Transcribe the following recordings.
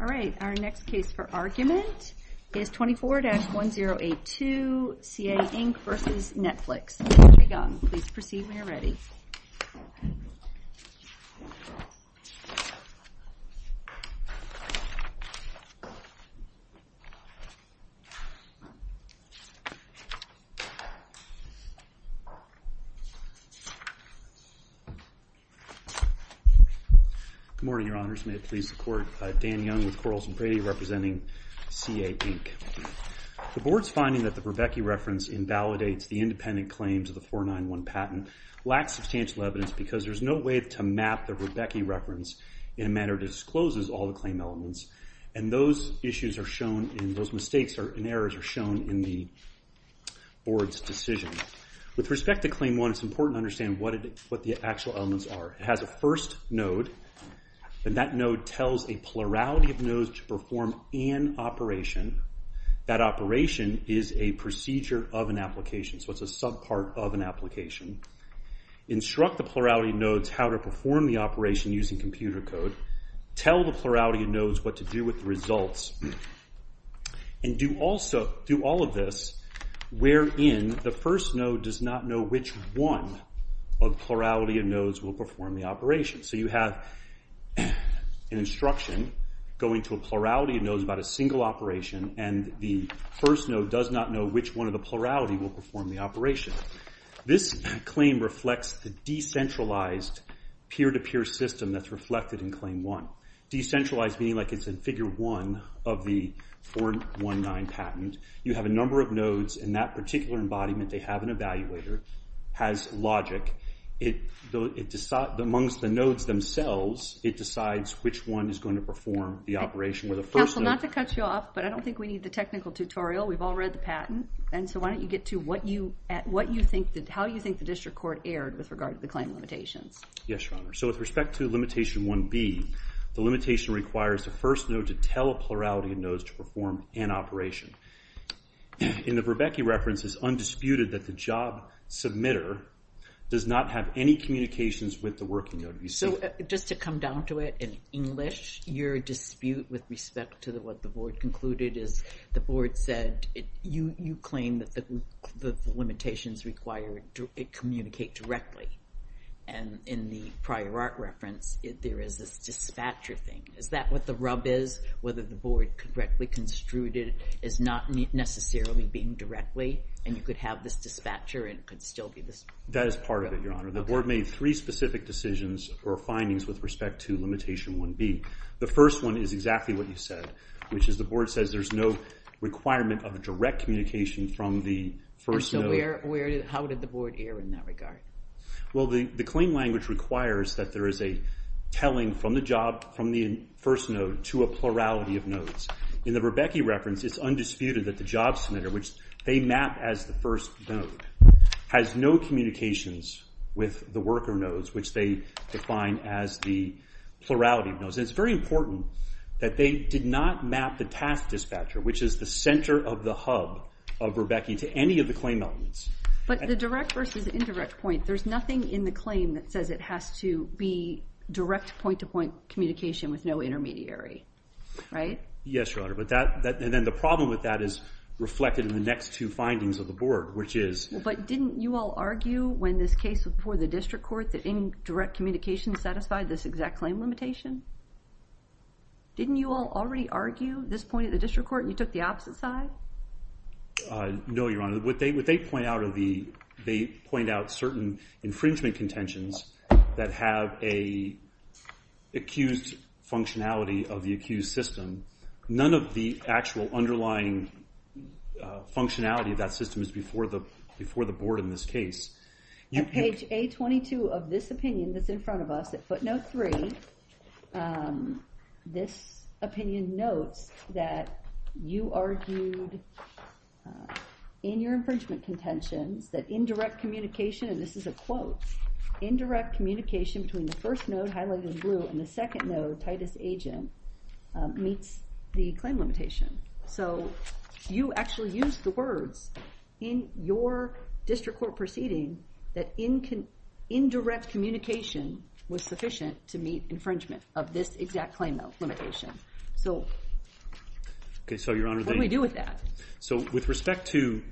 Alright, our next case for argument is 24-1082, CA, Inc. v. Netflix. Mr. Young, please proceed when you're ready. Good morning, Your Honors. May it please the Court. Dan Young with Corals and Brady representing CA, Inc. The Board's finding that the Rebecki reference invalidates the independent claims of the 491 patent lacks substantial evidence because there's no way to map the Rebecki reference in a manner that discloses all the claim elements, and those mistakes and errors are shown in the Board's decision. With respect to Claim 1, it's important to understand what the actual elements are. It has a first node, and that node tells a plurality of nodes to perform an operation. That operation is a procedure of an application, so it's a subpart of an application. Instruct the plurality of nodes how to perform the operation using computer code. Tell the plurality of nodes what to do with the results. Do all of this wherein the first node does not know which one of the plurality of nodes will perform the operation. So you have an instruction going to a plurality of nodes about a single operation, and the first node does not know which one of the plurality will perform the operation. This claim reflects the decentralized peer-to-peer system that's reflected in Claim 1. Decentralized meaning like it's in Figure 1 of the 419 patent. You have a number of nodes, and that particular embodiment, they have an evaluator, has logic. Amongst the nodes themselves, it decides which one is going to perform the operation. Counsel, not to cut you off, but I don't think we need the technical tutorial. We've all read the patent, and so why don't you get to how you think the district court erred with regard to the claim limitations. Yes, Your Honor. So with respect to Limitation 1B, the limitation requires the first node to tell a plurality of nodes to perform an operation. In the Verbecki reference, it's undisputed that the job submitter does not have any communications with the working node. So just to come down to it in English, your dispute with respect to what the board concluded is the board said you claim that the limitations require it to communicate directly. And in the prior art reference, there is this dispatcher thing. Is that what the rub is, whether the board correctly construed it as not necessarily being directly, and you could have this dispatcher and it could still be this? That is part of it, Your Honor. The board made three specific decisions or findings with respect to Limitation 1B. The first one is exactly what you said, which is the board says there's no requirement of direct communication from the first node. And so how did the board err in that regard? Well, the claim language requires that there is a telling from the first node to a plurality of nodes. In the Verbecki reference, it's undisputed that the job submitter, which they map as the first node, has no communications with the worker nodes, which they define as the plurality of nodes. And it's very important that they did not map the task dispatcher, which is the center of the hub of Verbecki, to any of the claim elements. But the direct versus indirect point, there's nothing in the claim that says it has to be direct point-to-point communication with no intermediary, right? Yes, Your Honor. And then the problem with that is reflected in the next two findings of the board, which is... But didn't you all argue when this case was before the district court that indirect communication satisfied this exact claim limitation? Didn't you all already argue this point at the district court and you took the opposite side? No, Your Honor. What they point out are the... They point out certain infringement contentions that have an accused functionality of the accused system. None of the actual underlying functionality of that system is before the board in this case. On page A22 of this opinion that's in front of us at footnote 3, this opinion notes that you argued in your infringement contentions that indirect communication, and this is a quote, indirect communication between the first node highlighted in blue and the second node, Titus Agent, meets the claim limitation. So you actually used the words in your district court proceeding that indirect communication was sufficient to meet infringement of this exact claim limitation. So what do we do with that? So with respect to...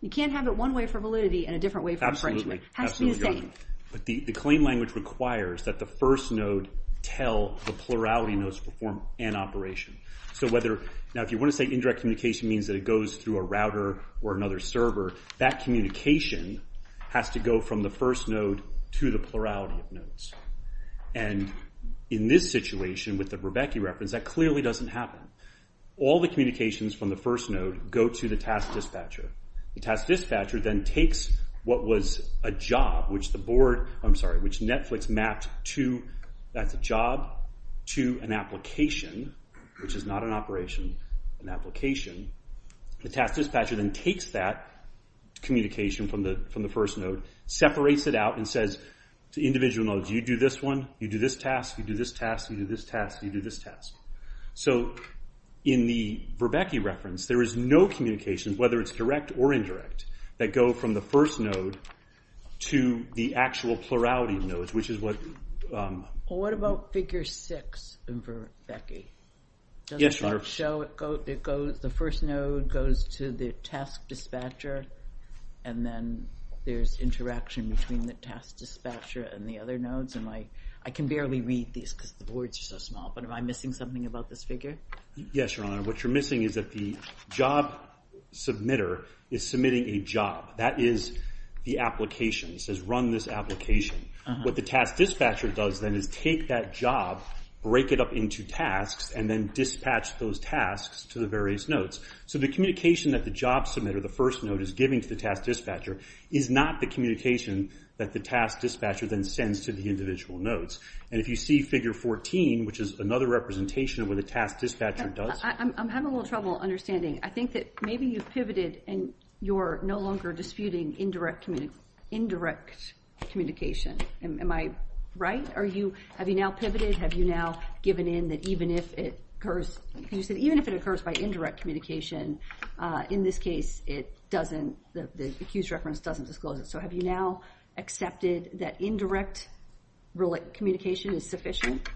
You can't have it one way for validity and a different way for infringement. It has to be the same. But the claim language requires that the first node tell the plurality nodes to perform an operation. So whether... Now if you want to say indirect communication means that it goes through a router or another server, that communication has to go from the first node to the plurality of nodes. And in this situation with the Rebecca reference, that clearly doesn't happen. All the communications from the first node go to the task dispatcher. The task dispatcher then takes what was a job, which the board... I'm sorry, which Netflix mapped to... That's a job to an application, which is not an operation, an application. The task dispatcher then takes that communication from the first node, separates it out, and says to individual nodes, you do this one, you do this task, you do this task, you do this task, you do this task. So in the Verbecky reference, there is no communication, whether it's direct or indirect, that go from the first node to the actual plurality of nodes, which is what... What about figure six in Verbecky? Yes, Your Honor. The first node goes to the task dispatcher, and then there's interaction between the task dispatcher and the other nodes. I can barely read these because the boards are so small, but am I missing something about this figure? Yes, Your Honor. What you're missing is that the job submitter is submitting a job. That is the application. It says run this application. What the task dispatcher does then is take that job, break it up into tasks, and then dispatch those tasks to the various nodes. So the communication that the job submitter, the first node, is giving to the task dispatcher is not the communication that the task dispatcher then sends to the individual nodes. And if you see figure 14, which is another representation of what the task dispatcher does... Am I right? Have you now pivoted? Have you now given in that even if it occurs by indirect communication, in this case, the accused reference doesn't disclose it. So have you now accepted that indirect communication is sufficient?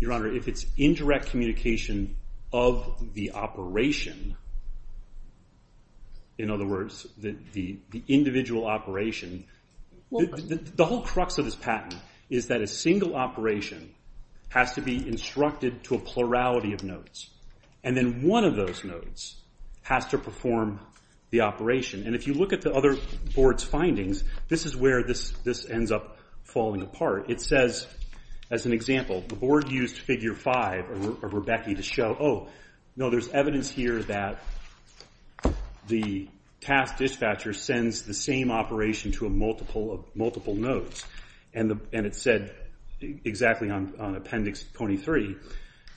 Your Honor, if it's indirect communication of the operation... In other words, the individual operation... The whole crux of this patent is that a single operation has to be instructed to a plurality of nodes. And then one of those nodes has to perform the operation. And if you look at the other board's findings, this is where this ends up falling apart. It says, as an example, the board used figure 5 of Rebecki to show, oh, no, there's evidence here that the task dispatcher sends the same operation to multiple nodes. And it said exactly on appendix 23,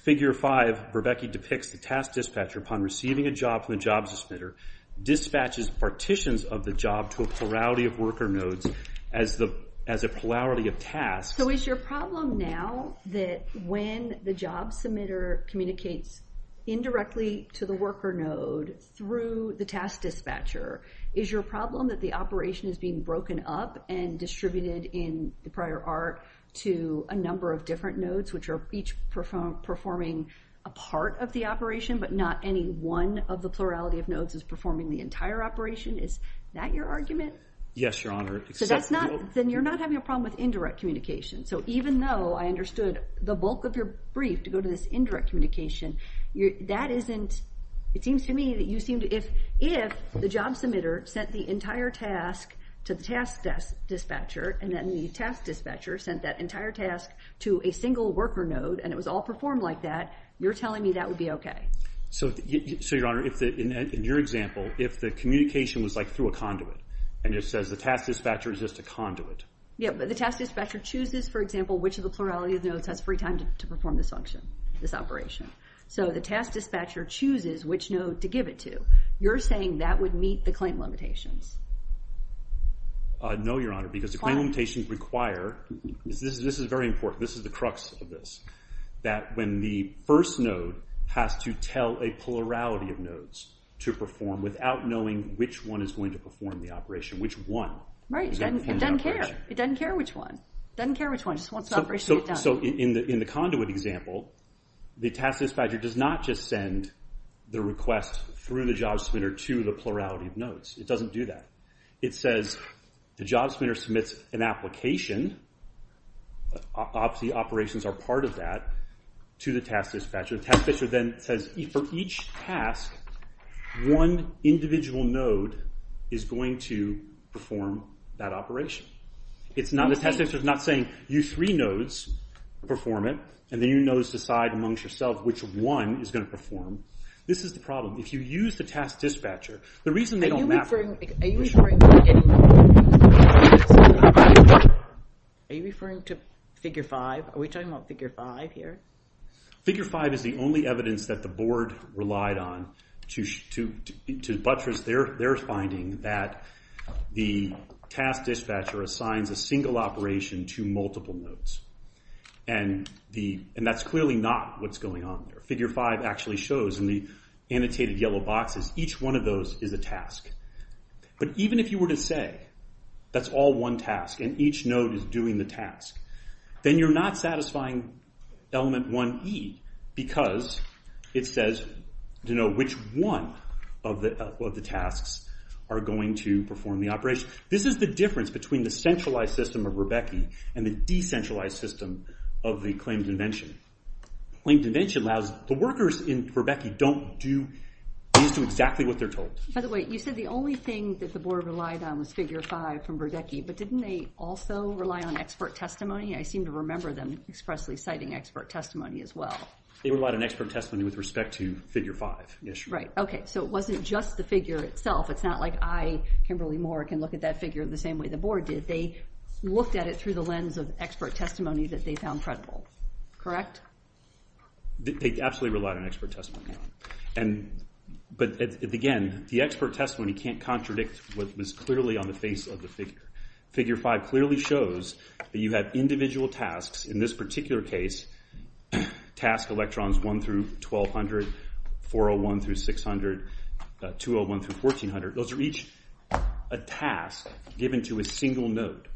figure 5, Rebecki depicts the task dispatcher upon receiving a job from the job submitter, dispatches partitions of the job to a plurality of worker nodes as a plurality of tasks. So is your problem now that when the job submitter communicates indirectly to the worker node through the task dispatcher, is your problem that the operation is being broken up and distributed in prior art to a number of different nodes, which are each performing a part of the operation, but not any one of the plurality of nodes is performing the entire operation? Is that your argument? Yes, Your Honor. So that's not... Then you're not having a problem with indirect communication. So even though I understood the bulk of your brief to go to this indirect communication, that isn't... It seems to me that you seem to... If the job submitter sent the entire task to the task dispatcher, and then the task dispatcher sent that entire task to a single worker node, and it was all performed like that, you're telling me that would be okay? So, Your Honor, in your example, if the communication was like through a conduit, and it says the task dispatcher is just a conduit... Yeah, but the task dispatcher chooses, for example, which of the plurality of nodes has free time to perform this function, this operation. So the task dispatcher chooses which node to give it to. You're saying that would meet the claim limitations? No, Your Honor, because the claim limitations require... This is very important. This is the crux of this. That when the first node has to tell a plurality of nodes to perform without knowing which one is going to perform the operation, which one is going to perform the operation... Right. It doesn't care. It doesn't care which one. It doesn't care which one. It just wants the operation to get done. So in the conduit example, the task dispatcher does not just send the request through the job submitter to the plurality of nodes. It doesn't do that. It says the job submitter submits an application, the operations are part of that, to the task dispatcher. The task dispatcher then says for each task, one individual node is going to perform that operation. The task dispatcher is not saying you three nodes perform it, and then you nodes decide amongst yourselves which one is going to perform. This is the problem. If you use the task dispatcher, the reason they don't map... Are you referring to figure five? Are we talking about figure five here? Figure five is the only evidence that the board relied on to buttress their finding that the task dispatcher assigns a single operation to multiple nodes. And that's clearly not what's going on there. Figure five actually shows in the annotated yellow boxes, each one of those is a task. But even if you were to say that's all one task, and each node is doing the task, then you're not satisfying element 1E, because it says to know which one of the tasks are going to perform the operation. This is the difference between the centralized system of Rebecki and the decentralized system of the claimed invention. Claimed invention allows the workers in Rebecki don't do... These do exactly what they're told. By the way, you said the only thing that the board relied on was figure five from Rebecki, but didn't they also rely on expert testimony? I seem to remember them expressly citing expert testimony as well. They relied on expert testimony with respect to figure five. Right, okay. So it wasn't just the figure itself. It's not like I, Kimberly Moore, can look at that figure the same way the board did. They looked at it through the lens of expert testimony that they found credible. Correct? They absolutely relied on expert testimony. But again, the expert testimony can't contradict what was clearly on the face of the figure. Figure five clearly shows that you have individual tasks. In this particular case, task electrons 1 through 1200, 401 through 600, 201 through 1400. Those are each a task given to a single node.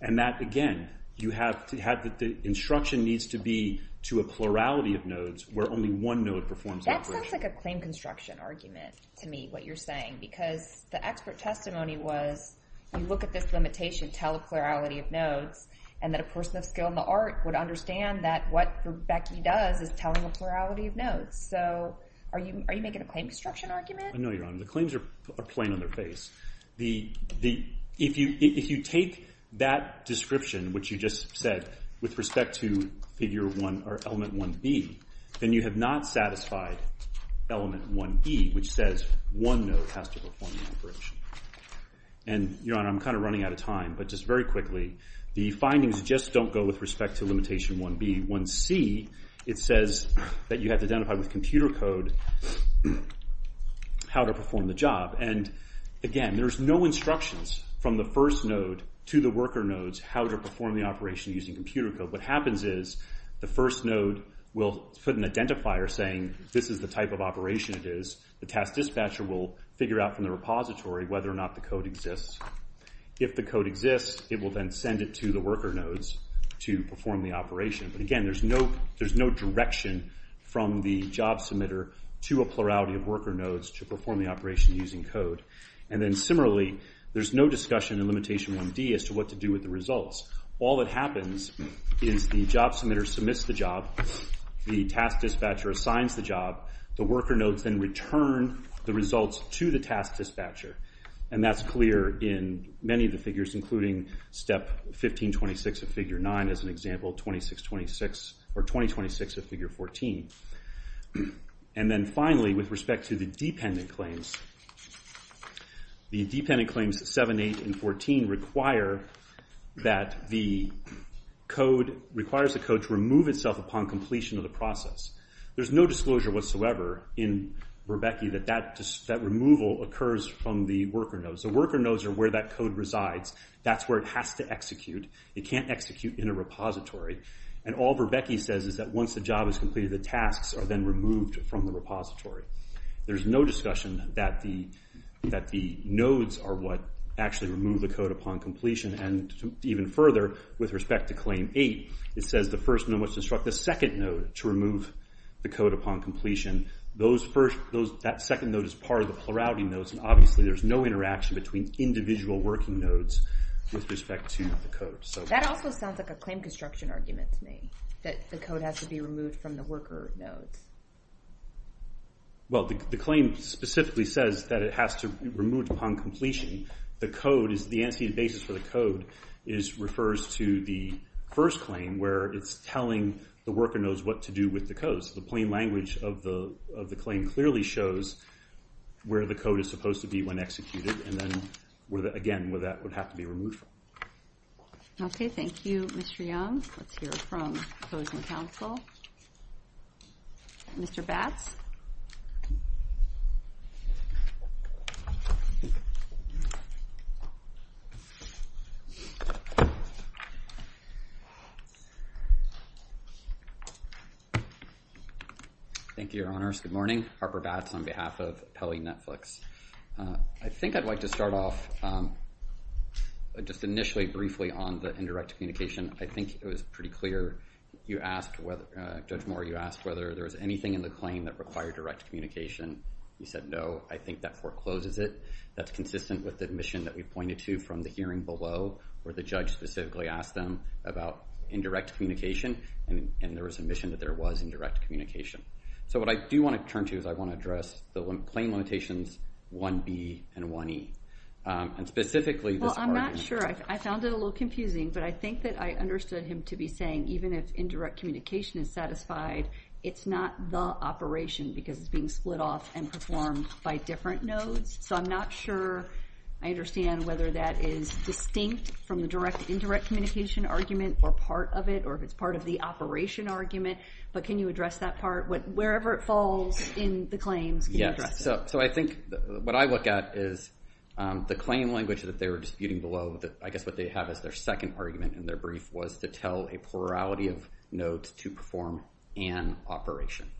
And that, again, the instruction needs to be to a plurality of nodes where only one node performs the operation. That sounds like a claim construction argument to me, what you're saying, because the expert testimony was you look at this limitation, tell a plurality of nodes, and that a person of skill in the art would understand that what Rebecki does is telling a plurality of nodes. So are you making a claim construction argument? No, Your Honor. The claims are plain on their face. If you take that description, which you just said, with respect to element 1B, then you have not satisfied element 1B, which says one node has to perform the operation. And, Your Honor, I'm kind of running out of time, but just very quickly, the findings just don't go with respect to limitation 1B. It says that you have to identify with computer code how to perform the job. And, again, there's no instructions from the first node to the worker nodes how to perform the operation using computer code. What happens is the first node will put an identifier saying this is the type of operation it is. The task dispatcher will figure out from the repository whether or not the code exists. If the code exists, it will then send it to the worker nodes to perform the operation. But, again, there's no direction from the job submitter to a plurality of worker nodes to perform the operation using code. And then, similarly, there's no discussion in limitation 1D as to what to do with the results. All that happens is the job submitter submits the job. The task dispatcher assigns the job. The worker nodes then return the results to the task dispatcher. And that's clear in many of the figures, including Step 1526 of Figure 9, as an example, or 2026 of Figure 14. And then, finally, with respect to the dependent claims, the dependent claims 7, 8, and 14 require that the code requires the code to remove itself upon completion of the process. There's no disclosure whatsoever in Berbecki that that removal occurs from the worker nodes. The worker nodes are where that code resides. That's where it has to execute. It can't execute in a repository. And all Berbecki says is that once the job is completed, the tasks are then removed from the repository. There's no discussion that the nodes are what actually remove the code upon completion. And even further, with respect to Claim 8, it says the first node must instruct the second node to remove the code upon completion. That second node is part of the plurality nodes. And, obviously, there's no interaction between individual working nodes with respect to the code. That also sounds like a claim construction argument to me, that the code has to be removed from the worker nodes. Well, the claim specifically says that it has to be removed upon completion. The code is the anticipated basis for the code refers to the first claim where it's telling the worker nodes what to do with the code. So the plain language of the claim clearly shows where the code is supposed to be when executed, and then, again, where that would have to be removed from. Okay, thank you, Mr. Young. Let's hear from opposing counsel. Mr. Batts? Thank you, Your Honors. Good morning. Harper Batts on behalf of Pelley Netflix. I think I'd like to start off just initially briefly on the indirect communication. I think it was pretty clear. Judge Moore, you asked whether there was anything in the claim that required direct communication. You said no. I think that forecloses it. That's consistent with the admission that we pointed to from the hearing below, where the judge specifically asked them about indirect communication, and there was admission that there was indirect communication. So what I do want to turn to is I want to address the claim limitations 1B and 1E, and specifically this argument. Well, I'm not sure. I found it a little confusing, but I think that I understood him to be saying even if indirect communication is satisfied, it's not the operation because it's being split off and performed by different nodes. So I'm not sure I understand whether that is distinct from the direct indirect communication argument or part of it or if it's part of the operation argument. But can you address that part? Wherever it falls in the claims, can you address it? So I think what I look at is the claim language that they were disputing below. I guess what they have is their second argument in their brief was to tell a plurality of nodes to perform an operation.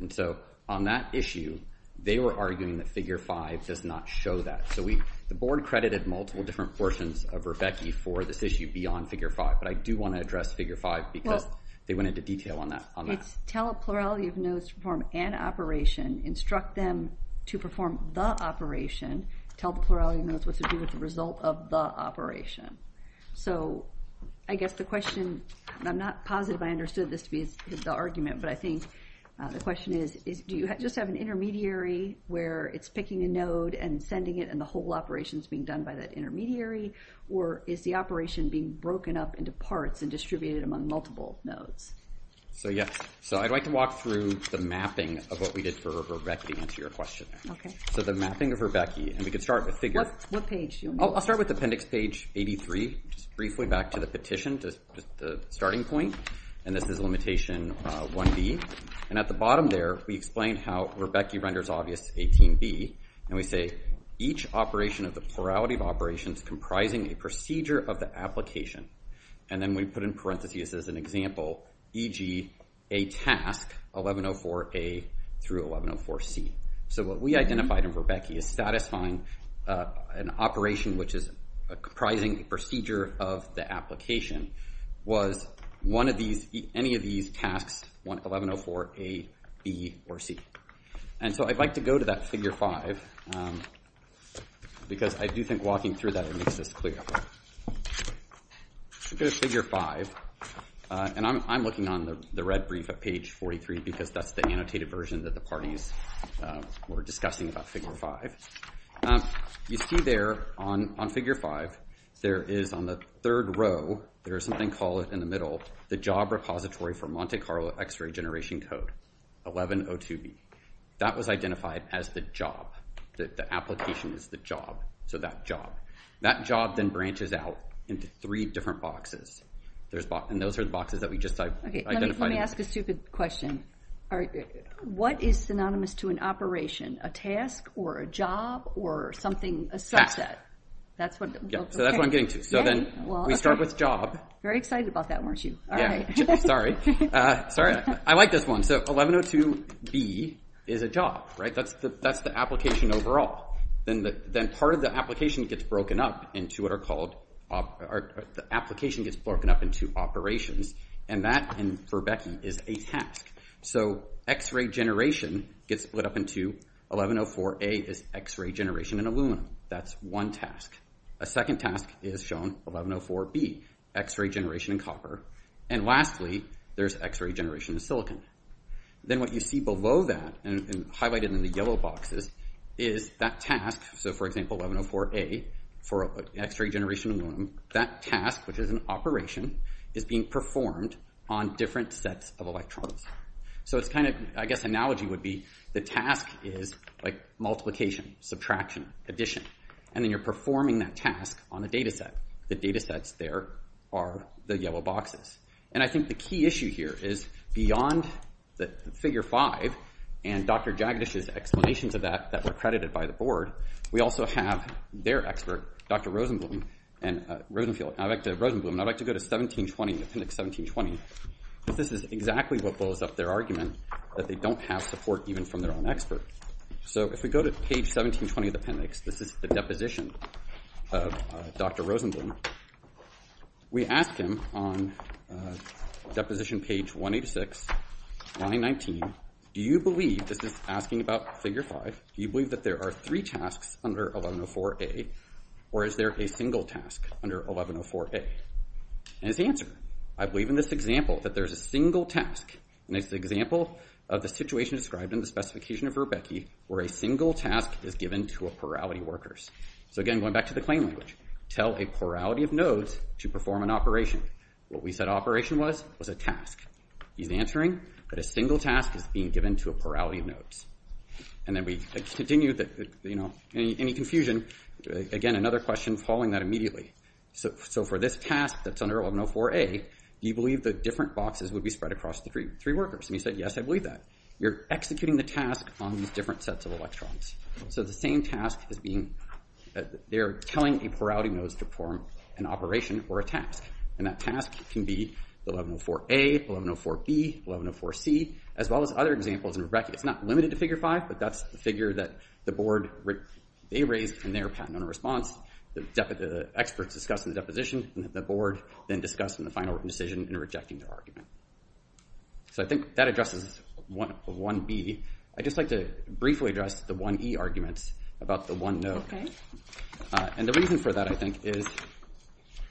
And so on that issue, they were arguing that Figure 5 does not show that. So the board credited multiple different portions of Rebecca for this issue beyond Figure 5, but I do want to address Figure 5 because they went into detail on that. It's tell a plurality of nodes to perform an operation. Instruct them to perform the operation. Tell the plurality of nodes what to do with the result of the operation. So I guess the question, and I'm not positive I understood this to be the argument, but I think the question is do you just have an intermediary where it's picking a node and sending it and the whole operation is being done by that intermediary, or is the operation being broken up into parts and distributed among multiple nodes? So, yeah, so I'd like to walk through the mapping of what we did for Rebecca to answer your question. Okay. So the mapping of Rebecca, and we could start with Figure. What page do you want me to start with? I'll start with appendix page 83, just briefly back to the petition, just the starting point. And this is limitation 1B. And at the bottom there, we explain how Rebecca renders obvious 18B, and we say each operation of the plurality of operations comprising a procedure of the application. And then we put in parentheses as an example, e.g., a task, 1104A through 1104C. So what we identified in Rebecca is satisfying an operation which is comprising a procedure of the application was any of these tasks, 1104A, B, or C. And so I'd like to go to that Figure 5 because I do think walking through that, it makes this clear. Figure 5, and I'm looking on the red brief at page 43 because that's the annotated version that the parties were discussing about Figure 5. You see there on Figure 5, there is on the third row, there is something called in the middle, the job repository for Monte Carlo X-ray generation code, 1102B. That was identified as the job, that the application is the job, so that job. That job then branches out into three different boxes, and those are the boxes that we just identified. Let me ask a stupid question. What is synonymous to an operation, a task, or a job, or something, a subset? So that's what I'm getting to. So then we start with job. Very excited about that, weren't you? Sorry. I like this one. So 1102B is a job, right? That's the application overall. Then part of the application gets broken up into operations, and that, for Becky, is a task. So X-ray generation gets split up into 1104A is X-ray generation in aluminum. That's one task. A second task is shown, 1104B, X-ray generation in copper. And lastly, there's X-ray generation in silicon. Then what you see below that and highlighted in the yellow boxes is that task, so for example, 1104A for X-ray generation in aluminum, that task, which is an operation, is being performed on different sets of electronics. So it's kind of, I guess, analogy would be the task is like multiplication, subtraction, addition. And then you're performing that task on a data set. The data sets there are the yellow boxes. And I think the key issue here is beyond the figure five and Dr. Jagadish's explanations of that that were credited by the board, we also have their expert, Dr. Rosenblum, and I'd like to go to 1720, appendix 1720. This is exactly what blows up their argument that they don't have support even from their own expert. So if we go to page 1720 of the appendix, this is the deposition of Dr. Rosenblum. We ask him on deposition page 186, line 19, do you believe, this is asking about figure five, do you believe that there are three tasks under 1104A, or is there a single task under 1104A? And his answer, I believe in this example that there's a single task, and it's the example of the situation described in the specification of Verbecki, where a single task is given to a plurality of workers. So again, going back to the claim language, tell a plurality of nodes to perform an operation. What we said operation was, was a task. He's answering that a single task is being given to a plurality of nodes. And then we continue that, you know, any confusion, again, another question following that immediately. So for this task that's under 1104A, do you believe the different boxes would be spread across the three workers? And he said, yes, I believe that. You're executing the task on these different sets of electrons. So the same task is being, they're telling a plurality of nodes to perform an operation or a task. And that task can be 1104A, 1104B, 1104C, as well as other examples in Verbecki. It's not limited to Figure 5, but that's the figure that the board, they raised in their patented response. The experts discussed in the deposition, and the board then discussed in the final written decision in rejecting the argument. So I think that addresses 1B. I'd just like to briefly address the 1E arguments about the one node. And the reason for that, I think, is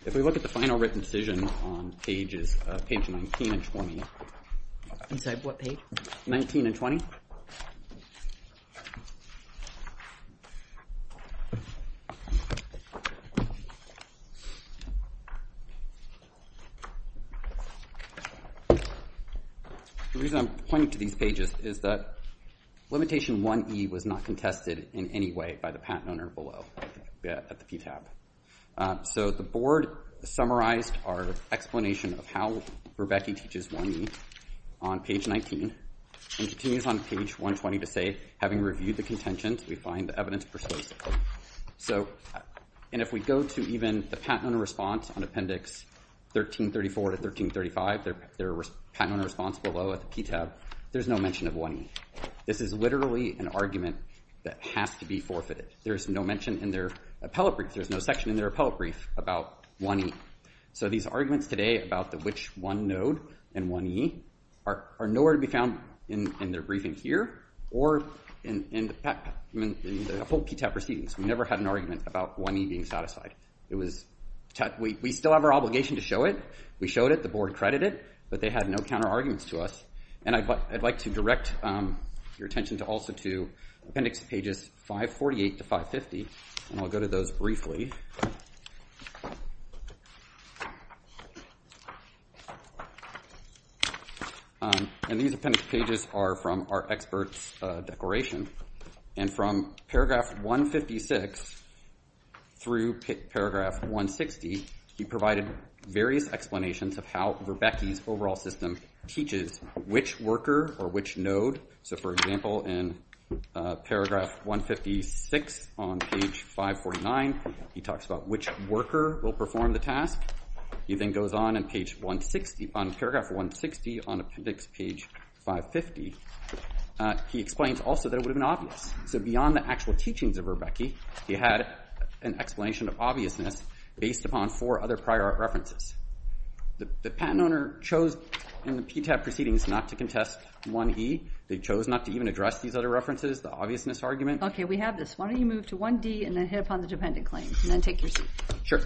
if we look at the final written decision on pages, page 19 and 20. I'm sorry, what page? 19 and 20. The reason I'm pointing to these pages is that limitation 1E was not contested in any way by the patent owner below at the PTAB. So the board summarized our explanation of how Verbecki teaches 1E on page 19, and continues on page 120 to say, having reviewed the contentions, we find the evidence persuasive. And if we go to even the patent owner response on appendix 1334 to 1335, their patent owner response below at the PTAB, there's no mention of 1E. This is literally an argument that has to be forfeited. There's no mention in their appellate brief. There's no section in their appellate brief about 1E. So these arguments today about the which one node and 1E are nowhere to be found in their briefing here or in the full PTAB proceedings. We never had an argument about 1E being satisfied. We still have our obligation to show it. We showed it. The board credited it. But they had no counterarguments to us. And I'd like to direct your attention also to appendix pages 548 to 550, and I'll go to those briefly. And these appendix pages are from our experts' declaration. And from paragraph 156 through paragraph 160, he provided various explanations of how Verbecki's overall system teaches which worker or which node. So, for example, in paragraph 156 on page 549, he talks about which worker will perform the task. He then goes on in paragraph 160 on appendix page 550. He explains also that it would have been obvious. So beyond the actual teachings of Verbecki, he had an explanation of obviousness based upon four other prior art references. The patent owner chose in the PTAB proceedings not to contest 1E. They chose not to even address these other references, the obviousness argument. Okay, we have this. Why don't you move to 1D and then hit upon the dependent claims and then take your seat. Sure.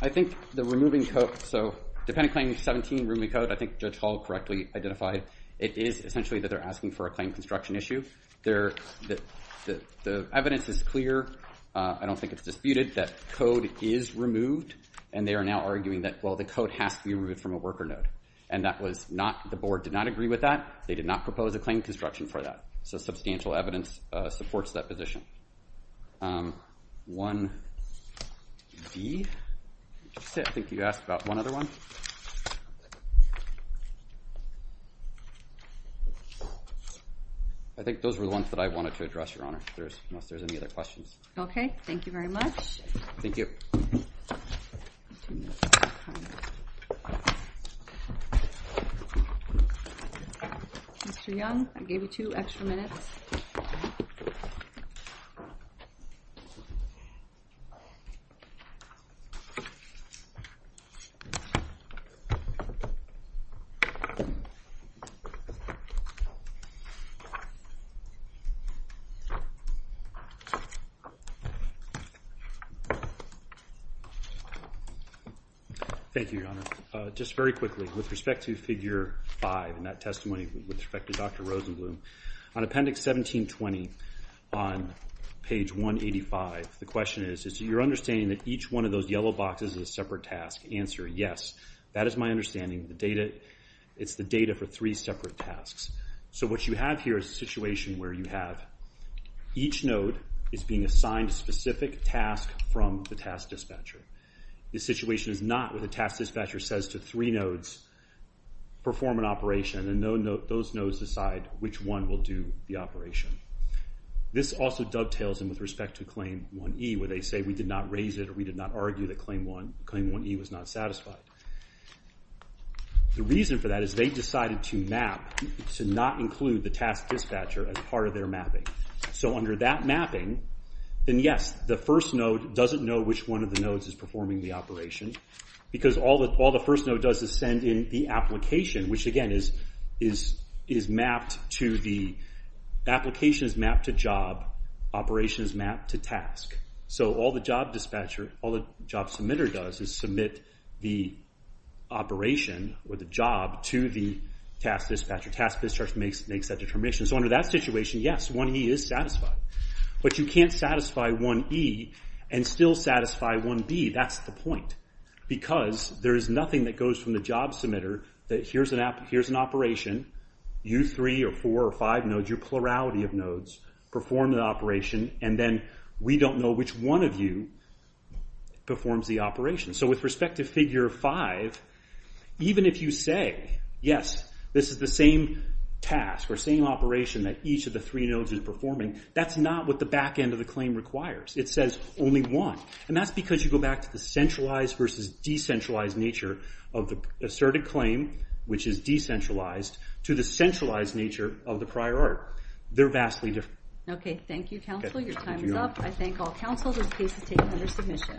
I think the removing code, so dependent claim 17, rooming code, I think Judge Hall correctly identified. It is essentially that they're asking for a claim construction issue. The evidence is clear. I don't think it's disputed that code is removed. And they are now arguing that, well, the code has to be removed from a worker node. And that was not, the board did not agree with that. They did not propose a claim construction for that. So substantial evidence supports that position. 1D. I think you asked about one other one. I think those were the ones that I wanted to address, Your Honor, unless there's any other questions. Okay, thank you very much. Thank you. Mr. Young, I gave you two extra minutes. Thank you. Thank you, Your Honor. Just very quickly, with respect to Figure 5 and that testimony with respect to Dr. Rosenblum, on Appendix 1720 on page 185, the question is, is your understanding that each one of those yellow boxes is a separate task? Answer, yes. That is my understanding. It's the data for three separate tasks. So what you have here is a situation where you have each node is being assigned a specific task from the task dispatcher. The situation is not where the task dispatcher says to three nodes, perform an operation, and those nodes decide which one will do the operation. This also dovetails in with respect to Claim 1E where they say, we did not raise it or we did not argue that Claim 1E was not satisfied. The reason for that is they decided to map, to not include the task dispatcher as part of their mapping. So under that mapping, then yes, the first node doesn't know which one of the nodes is performing the operation because all the first node does is send in the application, which again is mapped to the, application is mapped to job, operation is mapped to task. So all the job dispatcher, all the job submitter does is submit the operation or the job to the task dispatcher. Task dispatcher makes that determination. So under that situation, yes, 1E is satisfied. But you can't satisfy 1E and still satisfy 1B. That's the point. Because there is nothing that goes from the job submitter that here's an operation, you three or four or five nodes, your plurality of nodes perform the operation, and then we don't know which one of you performs the operation. So with respect to Figure 5, even if you say yes, this is the same task or same operation that each of the three nodes is performing, that's not what the back end of the claim requires. It says only one. And that's because you go back to the centralized versus decentralized nature of the asserted claim, which is decentralized, to the centralized nature of the prior art. They're vastly different. Okay. Thank you, counsel. Your time is up. I thank all counsel. This case is taken under submission.